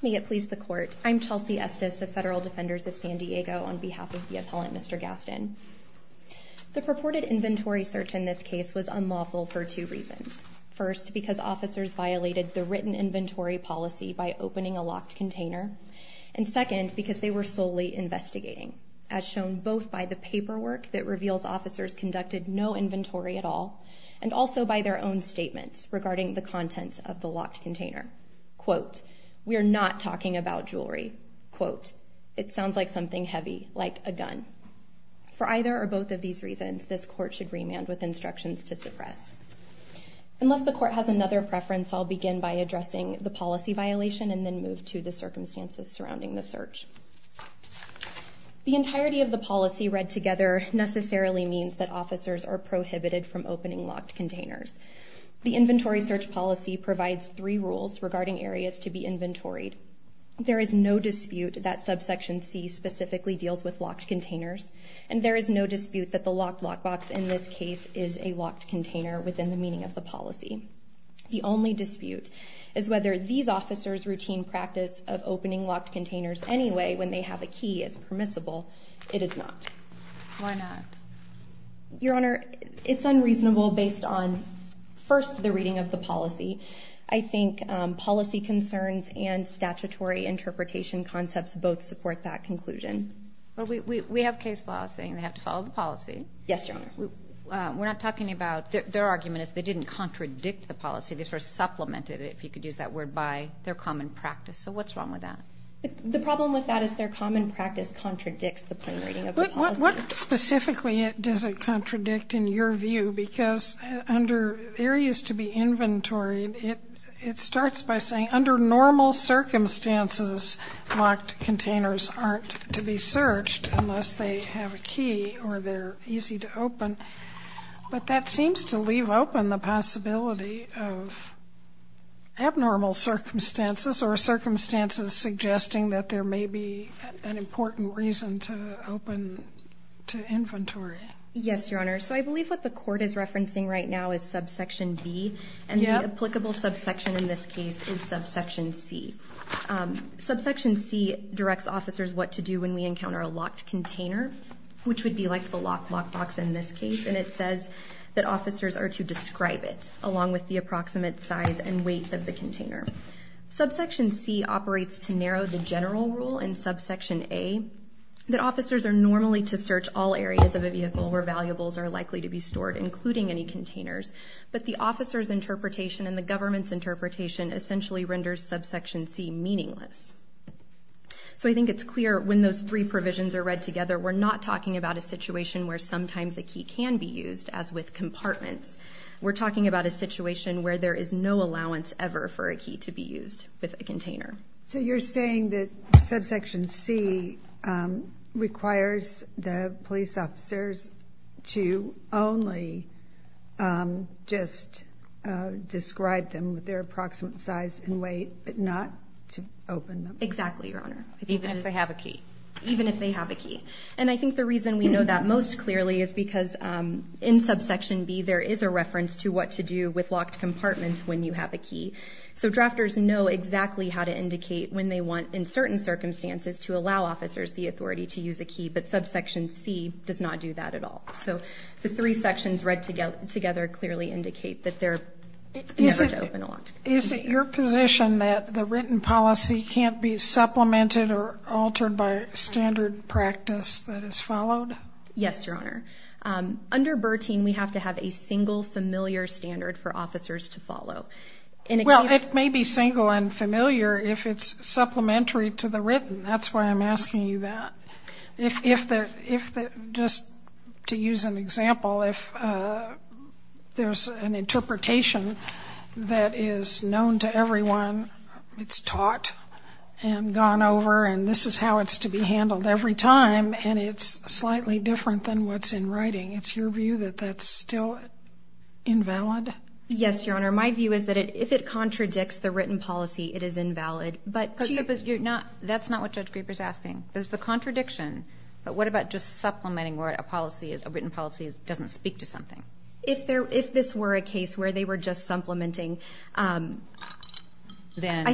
May it please the court. I'm Chelsea Estes of Federal Defenders of San Diego on behalf of the appellant, Mr. Gaston. The purported inventory search in this case was unlawful for two reasons. First, because officers violated the written inventory policy by opening a locked container, and second, because they were solely investigating, as shown both by the paperwork that reveals officers conducted no inventory at all, and also by their own statements regarding the contents of the locked container. Quote, we are not talking about jewelry. Quote, it sounds like something heavy, like a gun. For either or both of these reasons, this court should remand with instructions to suppress. Unless the court has another preference, I'll begin by addressing the policy violation and then move to the circumstances surrounding the search. The entirety of the policy read together necessarily means that officers are prohibited from opening locked containers. The inventory search policy provides three rules regarding areas to be inventoried. There is no dispute that subsection C specifically deals with locked containers, and there is no dispute that the locked lockbox in this case is a locked container within the meaning of the policy. The only dispute is whether these officers' routine practice of opening locked containers anyway, when they have a key, is permissible. It is not. Why not? Your Honor, it's unreasonable based on, first, the reading of the policy. I think policy concerns and statutory interpretation concepts both support that conclusion. Well, we have case law saying they have to follow the policy. Yes, Your Honor. We're not talking about, their argument is they didn't contradict the policy. They sort of supplemented it, if you could use that word, by their common practice. So what's wrong with that? What specifically does it contradict in your view? Because under areas to be inventoried, it starts by saying under normal circumstances, locked containers aren't to be searched unless they have a key or they're easy to open. But that seems to leave open the possibility of abnormal circumstances or circumstances suggesting that there may be an important reason to open to inventory. Yes, Your Honor. So I believe what the court is referencing right now is subsection B. And the applicable subsection in this case is subsection C. Subsection C directs officers what to do when we encounter a locked container, which would be like the lock box in this case. And it says that officers are to describe it along with the approximate size and weight of the container. Subsection C operates to narrow the general rule in subsection A, that officers are normally to search all areas of a vehicle where valuables are likely to be stored, including any containers. But the officer's interpretation and the government's interpretation essentially renders subsection C meaningless. So I think it's clear when those three provisions are read together, we're not talking about a situation where sometimes a key can be used, as with compartments. We're talking about a situation where there is no allowance ever for a key to be used with a container. So you're saying that subsection C requires the police officers to only just describe them with their approximate size and weight, but not to open them? Exactly, Your Honor. Even if they have a key? Even if they have a key. And I think the reason we know that most clearly is because in subsection B, there is a reference to what to do with locked compartments when you have a key. So drafters know exactly how to indicate when they want, in certain circumstances, to allow officers the authority to use a key. But subsection C does not do that at all. So the three sections read together clearly indicate that they're never to open a locked compartment. Is it your position that the written policy can't be supplemented or altered by standard practice that is followed? Yes, Your Honor. Under Bertine, we have to have a single, familiar standard for officers to follow. Well, it may be single and familiar if it's supplementary to the written. That's why I'm asking you that. If, just to use an example, if there's an interpretation that is known to everyone, it's taught and gone over, and this is how it's to be handled every time, and it's slightly different than what's in writing, it's your view that that's still invalid? Yes, Your Honor. My view is that if it contradicts the written policy, it is invalid. But to you... But that's not what Judge Grieper's asking. There's the contradiction. But what about just supplementing where a written policy doesn't speak to something? If this were a case where they were just supplementing, I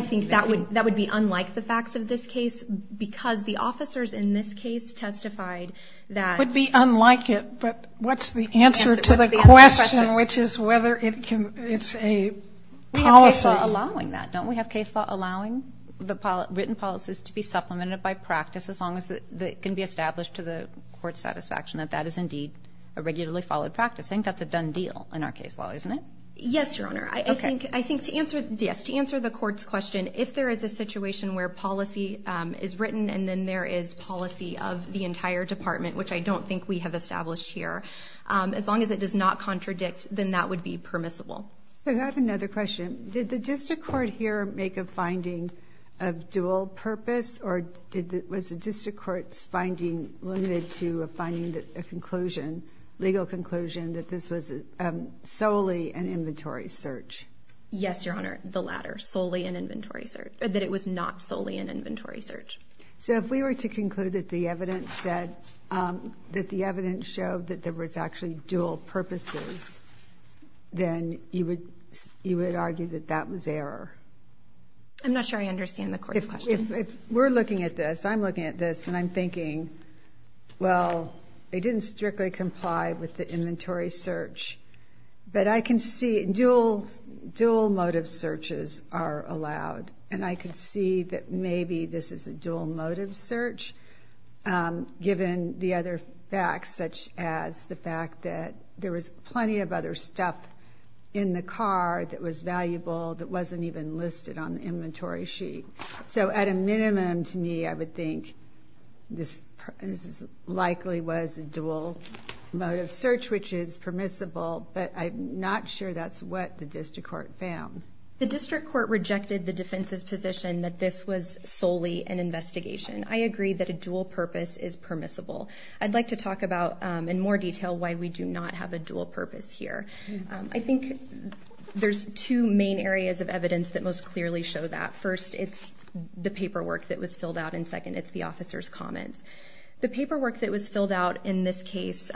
think that would be unlike the facts of this case because the officers in this case testified that... Could be unlike it, but what's the answer to the question, which is whether it's a policy... We have case law allowing that. Don't we have case law allowing the written policies to be supplemented by practice as long as it can be established to the court's satisfaction that that is indeed a regularly followed practice? I think that's a done deal in our case law, isn't it? Yes, Your Honor. I think to answer the court's question, if there is a situation where policy is written and then there is policy of the entire department, which I don't think we have established here, as long as it does not contradict, then that would be permissible. I have another question. Did the district court here make a finding of dual purpose or was the district court's finding limited to finding a conclusion, Yes, Your Honor. ...the latter, that it was not solely an inventory search? So if we were to conclude that the evidence showed that there was actually dual purposes, then you would argue that that was error. I'm not sure I understand the court's question. If we're looking at this, I'm looking at this, and I'm thinking, well, it didn't strictly comply with the inventory search, but I can see dual motive searches are allowed, and I can see that maybe this is a dual motive search, given the other facts, such as the fact that there was plenty of other stuff in the car that was valuable that wasn't even listed on the inventory sheet. So at a minimum to me, I would think this likely was a dual motive search, which is permissible, but I'm not sure that's what the district court found. The district court rejected the defense's position that this was solely an investigation. I agree that a dual purpose is permissible. I'd like to talk about in more detail why we do not have a dual purpose here. I think there's two main areas of evidence that most clearly show that. First, it's the paperwork that was filled out, and second, it's the officer's comments. The paperwork that was filled out in this case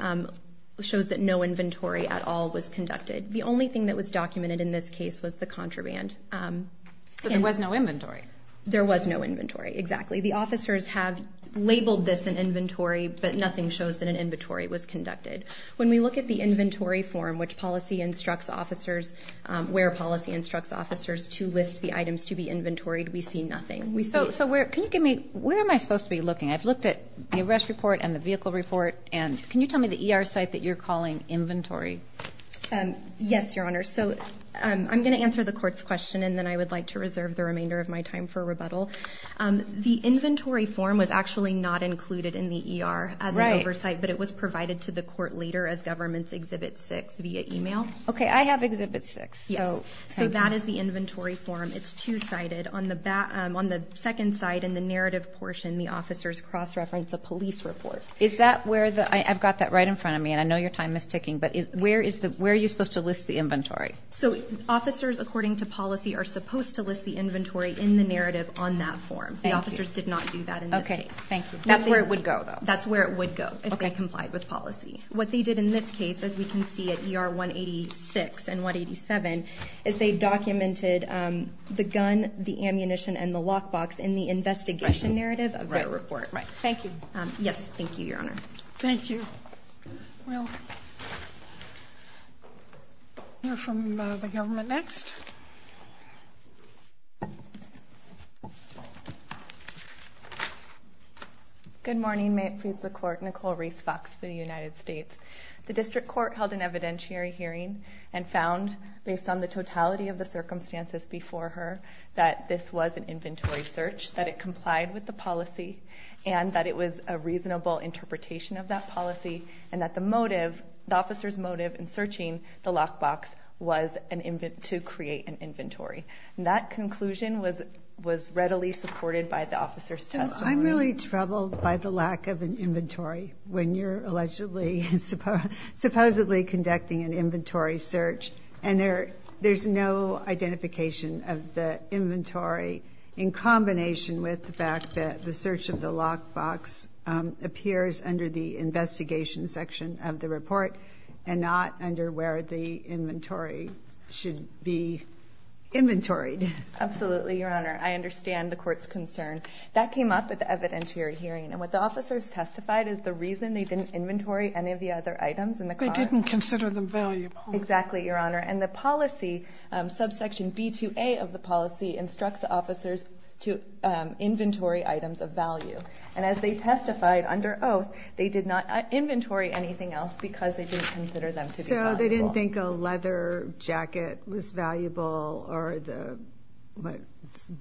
shows that no inventory at all was conducted. The only thing that was documented in this case was the contraband. But there was no inventory. There was no inventory, exactly. The officers have labeled this an inventory, but nothing shows that an inventory was conducted. When we look at the inventory form, which policy instructs officers, where policy instructs officers to list the items to be inventoried, we see nothing. So where am I supposed to be looking? I've looked at the arrest report and the vehicle report, and can you tell me the ER site that you're calling inventory? Yes, Your Honor. So I'm going to answer the court's question, and then I would like to reserve the remainder of my time for rebuttal. The inventory form was actually not included in the ER as an oversight, but it was provided to the court later as government's Exhibit 6 via email. Okay, I have Exhibit 6. Yes, so that is the inventory form. It's two-sided. On the second side in the narrative portion, the officers cross-reference a police report. Is that where the... I've got that right in front of me, and I know your time is ticking, but where are you supposed to list the inventory? So officers, according to policy, are supposed to list the inventory in the narrative on that form. The officers did not do that in this case. Okay, thank you. That's where it would go, though. That's where it would go if they complied with policy. What they did in this case, as we can see at ER 186 and 187, is they documented the gun, the ammunition, and the lockbox in the investigation narrative of their report. Right, thank you. Yes, thank you, Your Honor. Thank you. We'll hear from the government next. Good morning. May it please the Court. Nicole Reese Fox for the United States. The District Court held an evidentiary hearing and found, based on the totality of the circumstances before her, that this was an inventory search, that it complied with the policy, and that it was a reasonable interpretation of that policy, and that the motive, the officer's motive, in searching the lockbox was to create an inventory. That conclusion was readily supported by the officer's testimony. I'm really troubled by the lack of an inventory when you're allegedly, supposedly conducting an inventory search, and there's no identification of the inventory in combination with the fact that the search of the lockbox appears under the investigation section of the report and not under where the inventory should be inventoried. Absolutely, Your Honor. I understand the Court's concern. That came up at the evidentiary hearing, and what the officers testified is the reason they didn't inventory any of the other items in the car. They didn't consider them valuable. Exactly, Your Honor. And the policy, subsection B2A of the policy, instructs the officers to inventory items of value. And as they testified under oath, they did not inventory anything else because they didn't consider them to be valuable. So they didn't think a leather jacket was valuable, or the, what,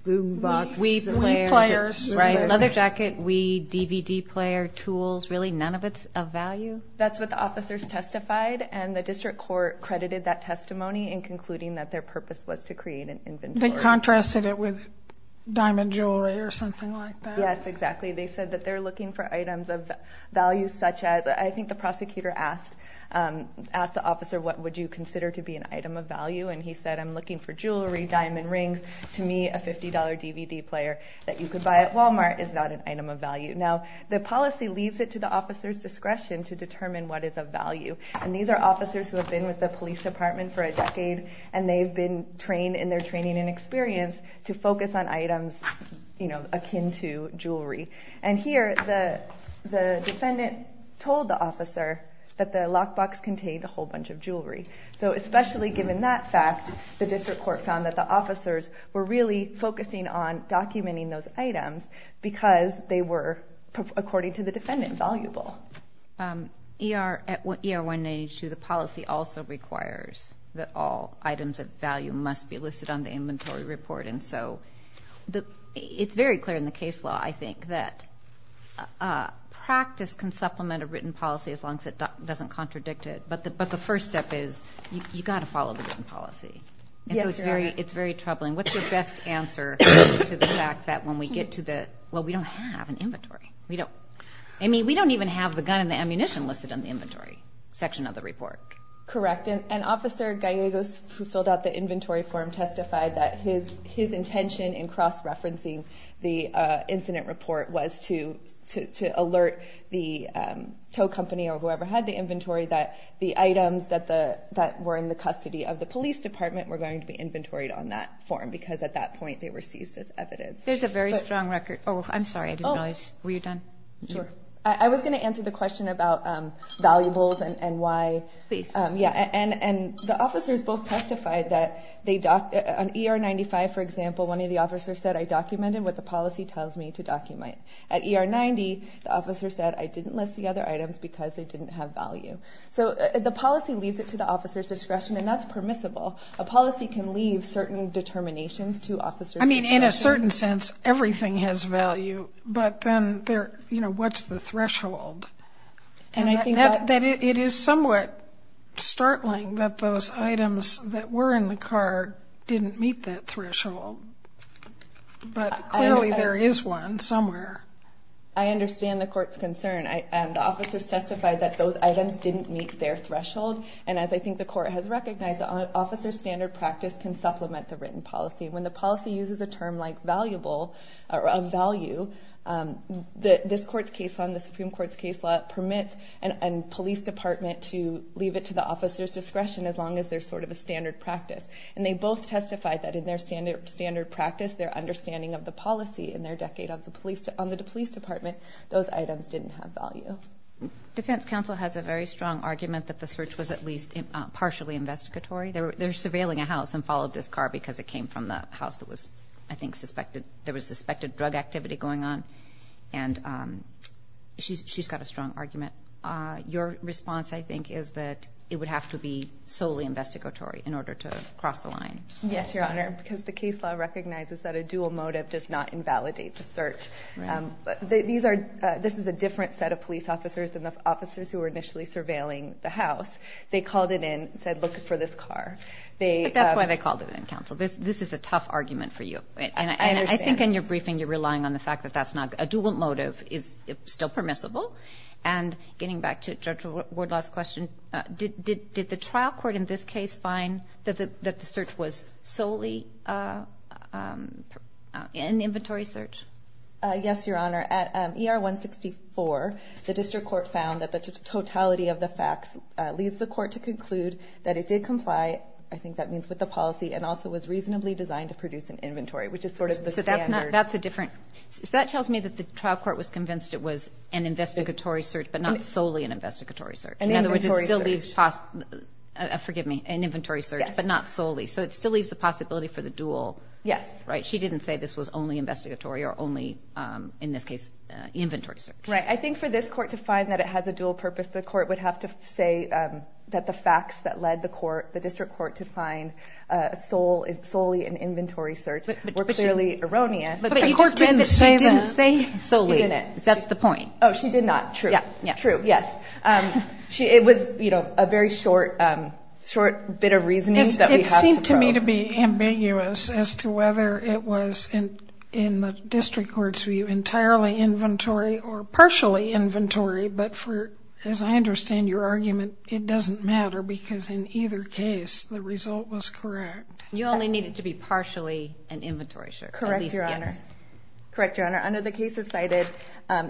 boom box? Wii players. Right, leather jacket, Wii, DVD player, tools, really none of it's of value? That's what the officers testified, and the District Court credited that testimony in concluding that their purpose was to create an inventory. They contrasted it with diamond jewelry or something like that? Yes, exactly. They said that they're looking for items of value, such as, I think the prosecutor asked the officer, what would you consider to be an item of value? And he said, I'm looking for jewelry, diamond rings. To me, a $50 DVD player that you could buy at Walmart is not an item of value. Now, the policy leaves it to the officer's discretion to determine what is of value. And these are officers who have been with the police department for a decade, and they've been trained in their training and experience to focus on items, you know, akin to jewelry. And here, the defendant told the officer that the lockbox contained a whole bunch of jewelry. So, especially given that fact, the District Court found that the officers were really focusing on documenting those items because they were, according to the defendant, valuable. ER-192, the policy also requires that all items of value must be listed on the inventory report. And so, it's very clear in the case law, I think, that practice can supplement a written policy as long as it doesn't contradict it. But the first step is, you've got to follow the written policy. And so, it's very troubling. What's your best answer to the fact that when we get to the, well, we don't have an inventory. I mean, we don't even have the gun and the ammunition listed on the inventory section of the report. Correct. And Officer Gallegos, who filled out the inventory form, testified that his intention in cross-referencing the incident report was to alert the tow company or whoever had the inventory that the items that were in the custody of the police department were going to be inventoried on that form because, at that point, they were seized as evidence. There's a very strong record. Oh, I'm sorry. I didn't realize. Were you done? Sure. I was going to answer the question about valuables and why, yeah, and the officers both testified that on ER-95, for example, one of the officers said, I documented what the policy tells me to document. At ER-90, the officer said, I didn't list the other items because they didn't have value. So, the policy leaves it to the officer's discretion and that's permissible. A policy can leave certain determinations to officers. I mean, in a certain sense, everything has value. But then, you know, what's the threshold? And I think that it is somewhat startling that those items that were in the car didn't meet that threshold. But clearly, there is one somewhere. I understand the court's concern. The officers testified that those items didn't meet their threshold. And as I think the court has recognized, an officer's standard practice can supplement the written policy. When the policy uses a term like valuable or of value, this court's case on the Supreme Court's case law permits a police department to leave it to the officer's discretion as long as there's sort of a standard practice. And they both testified that in their standard practice, their understanding of the policy in their decade on the police department, those items didn't have value. Defense counsel has a very strong argument that the search was at least partially investigatory. They're surveilling a house and followed this car because it came from the house that was, I think, there was suspected drug activity going on. And she's got a strong argument. Your response, I think, is that it would have to be solely investigatory in order to cross the line. Yes, Your Honor, because the case law recognizes that a dual motive does not invalidate the search. This is a different set of police officers than the officers who were initially surveilling the house. They called it in and said, look for this car. But that's why they called it in, counsel. This is a tough argument for you. And I think in your briefing, you're relying on the fact that that's not, a dual motive is still permissible. And getting back to Judge Wardlaw's question, did the trial court in this case find that the search was solely an inventory search? Yes, Your Honor. At ER 164, the district court found that the totality of the facts leads the court to conclude that it did comply, I think that means with the policy, and also was reasonably designed to produce an inventory, which is sort of the standard. So that's a different, so that tells me that the trial court was convinced it was an investigatory search, but not solely an investigatory search. In other words, it still leaves, forgive me, an inventory search, but not solely. So it still leaves the possibility for the dual, right? She didn't say this was only investigatory or only, in this case, inventory search. Right, I think for this court to find that it has a dual purpose, the court would have to say that the facts that led the court, the district court, to find solely an inventory search were clearly erroneous. But the court didn't say that. She didn't say solely, that's the point. Oh, she did not, true, true, yes. It was a very short bit of reasoning that we had to vote. It seemed to me to be ambiguous as to whether it was, in the district court's view, entirely inventory or partially inventory, but for, as I understand your argument, it doesn't matter because in either case, the result was correct. You only need it to be partially an inventory search. Correct, Your Honor. At least, yes. Correct, Your Honor. Under the cases cited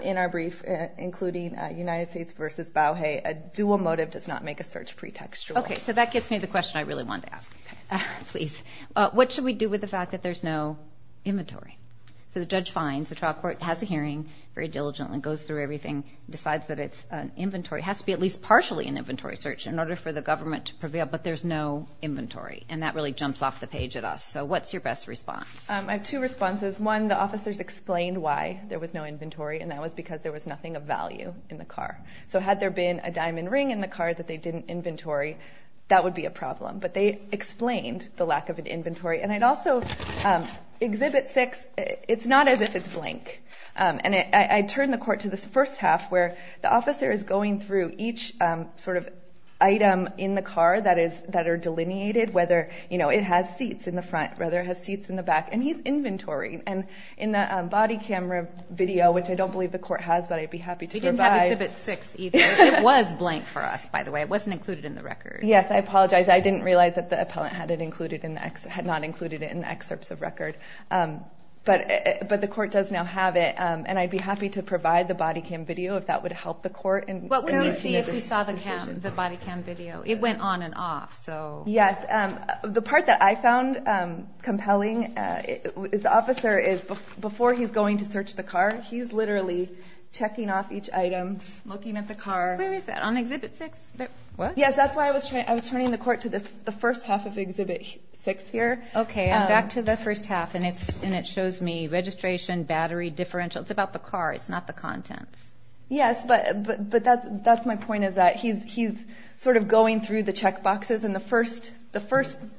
in our brief, including United States versus Bauhey, a dual motive does not make a search pretextual. Okay, so that gets me to the question I really wanted to ask, please. What should we do with the fact that there's no inventory? So the judge finds, the trial court has a hearing, very diligently, goes through everything, decides that it's an inventory, has to be at least partially an inventory search in order for the government to prevail, but there's no inventory, and that really jumps off the page at us. So what's your best response? I have two responses. One, the officers explained why there was no inventory, and that was because there was nothing of value in the car. So had there been a diamond ring in the car that they didn't inventory, that would be a problem, but they explained the lack of an inventory, and I'd also, Exhibit 6, it's not as if it's blank, and I turn the court to this first half where the officer is going through each sort of item in the car that are delineated, whether it has seats in the front, whether it has seats in the back, and he's inventorying, and in the body camera video, which I don't believe the court has, but I'd be happy to provide. We didn't have Exhibit 6 either. It was blank for us, by the way. It wasn't included in the record. Yes, I apologize. I didn't realize that the appellant had it included, had not included it in the excerpts of record, but the court does now have it, and I'd be happy to provide the body cam video if that would help the court. Well, let me see if you saw the body cam video. It went on and off, so. Yes, the part that I found compelling is, the officer is, before he's going to search the car, he's literally checking off each item, looking at the car. Where is that, on Exhibit 6, what? Yes, that's why I was turning the court to the first half of Exhibit 6 here. Okay, I'm back to the first half, and it shows me registration, battery, differential. It's about the car, it's not the contents. Yes, but that's my point, is that he's sort of going through the check boxes, and the first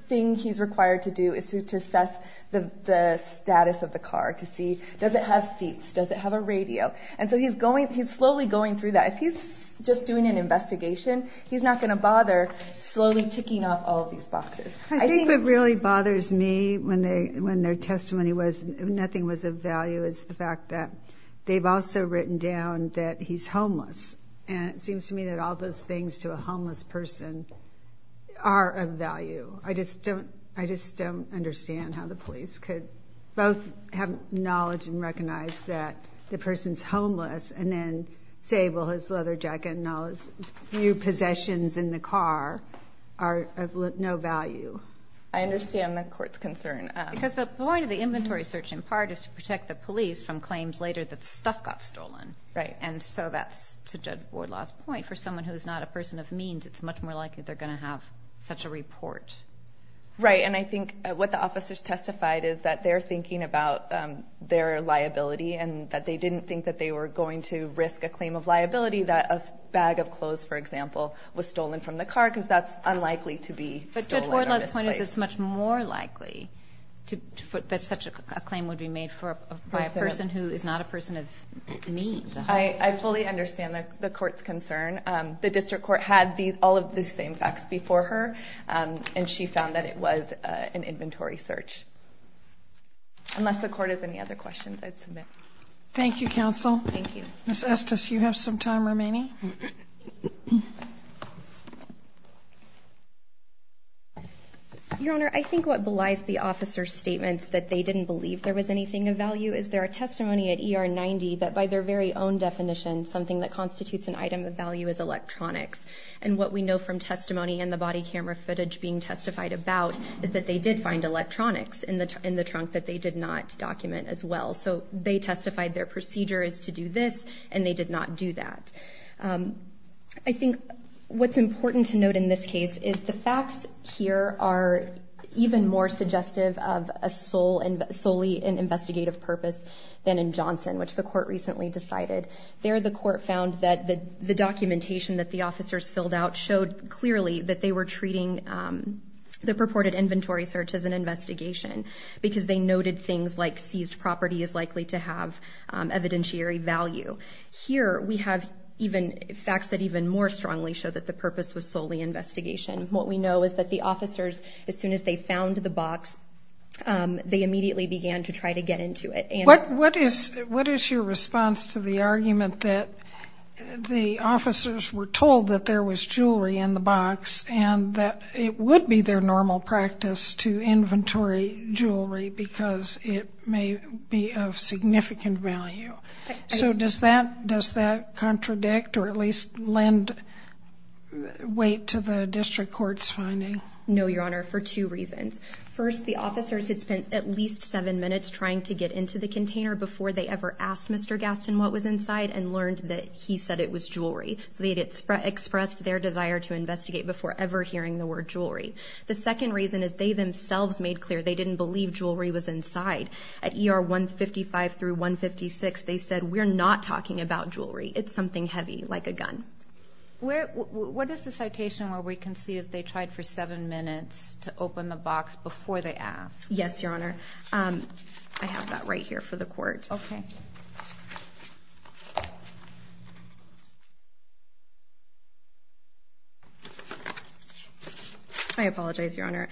thing he's required to do is to assess the status of the car, to see, does it have seats, does it have a radio? And so he's slowly going through that. If he's just doing an investigation, he's not going to bother slowly ticking off all of these boxes. I think what really bothers me, when their testimony was nothing was of value, is the fact that they've also written down that he's homeless, and it seems to me that all those things to a homeless person are of value. I just don't understand how the police could both have knowledge and recognize that the person's homeless, and then say, well, his leather jacket and all his few possessions in the car are of no value. I understand the court's concern. Because the point of the inventory search, in part, is to protect the police from claims later that the stuff got stolen. And so that's, to Judge Wardlaw's point, for someone who's not a person of means, it's much more likely they're going to have such a report. Right, and I think what the officers testified is that they're thinking about their liability and that they didn't think that they were going to risk a claim of liability that a bag of clothes, for example, was stolen from the car, because that's unlikely to be stolen or misplaced. But Judge Wardlaw's point is, it's much more likely that such a claim would be made by a person who is not a person of means. I fully understand the court's concern. The district court had all of the same facts before her, and she found that it was an inventory search. Unless the court has any other questions, I'd submit. Thank you, counsel. Thank you. Ms. Estes, you have some time remaining. Your Honor, I think what belies the officers' statements that they didn't believe there was anything of value is their testimony at ER 90 that by their very own definition, something that constitutes an item of value is electronics. And what we know from testimony and the body camera footage being testified about is that they did find electronics in the trunk that they did not document as well. So they testified their procedure is to do this, and they did not do that. I think what's important to note in this case is the facts here are even more suggestive of a solely investigative purpose than in Johnson, which the court recently decided. There, the court found that the documentation that the officers filled out showed clearly that they were treating the purported inventory search as an investigation because they noted things like seized property is likely to have evidentiary value. Here, we have facts that even more strongly show that the purpose was solely investigation. What we know is that the officers, as soon as they found the box, they immediately began to try to get into it. What is your response to the argument that the officers were told that there was jewelry in the box and that it would be their normal practice to inventory jewelry because it may be of significant value? So does that contradict or at least lend weight to the district court's finding? No, Your Honor, for two reasons. First, the officers had spent at least seven minutes trying to get into the container before they ever asked Mr. Gaston what was inside and learned that he said it was jewelry. So they had expressed their desire to investigate before ever hearing the word jewelry. The second reason is they themselves made clear they didn't believe jewelry was inside. At ER 155 through 156, they said, we're not talking about jewelry. It's something heavy, like a gun. What is the citation where we can see that they tried for seven minutes to open the box before they asked? Yes, Your Honor. I have that right here for the court. Okay. I apologize, Your Honor.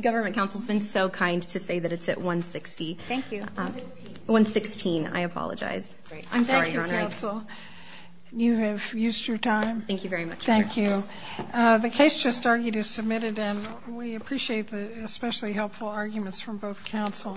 Government counsel's been so kind to say that it's at 160. Thank you. 116. 116. I apologize. I'm sorry, Your Honor. Thank you, counsel. You have used your time. Thank you very much. Thank you. The case just argued is submitted, and we appreciate the especially helpful arguments from both counsel.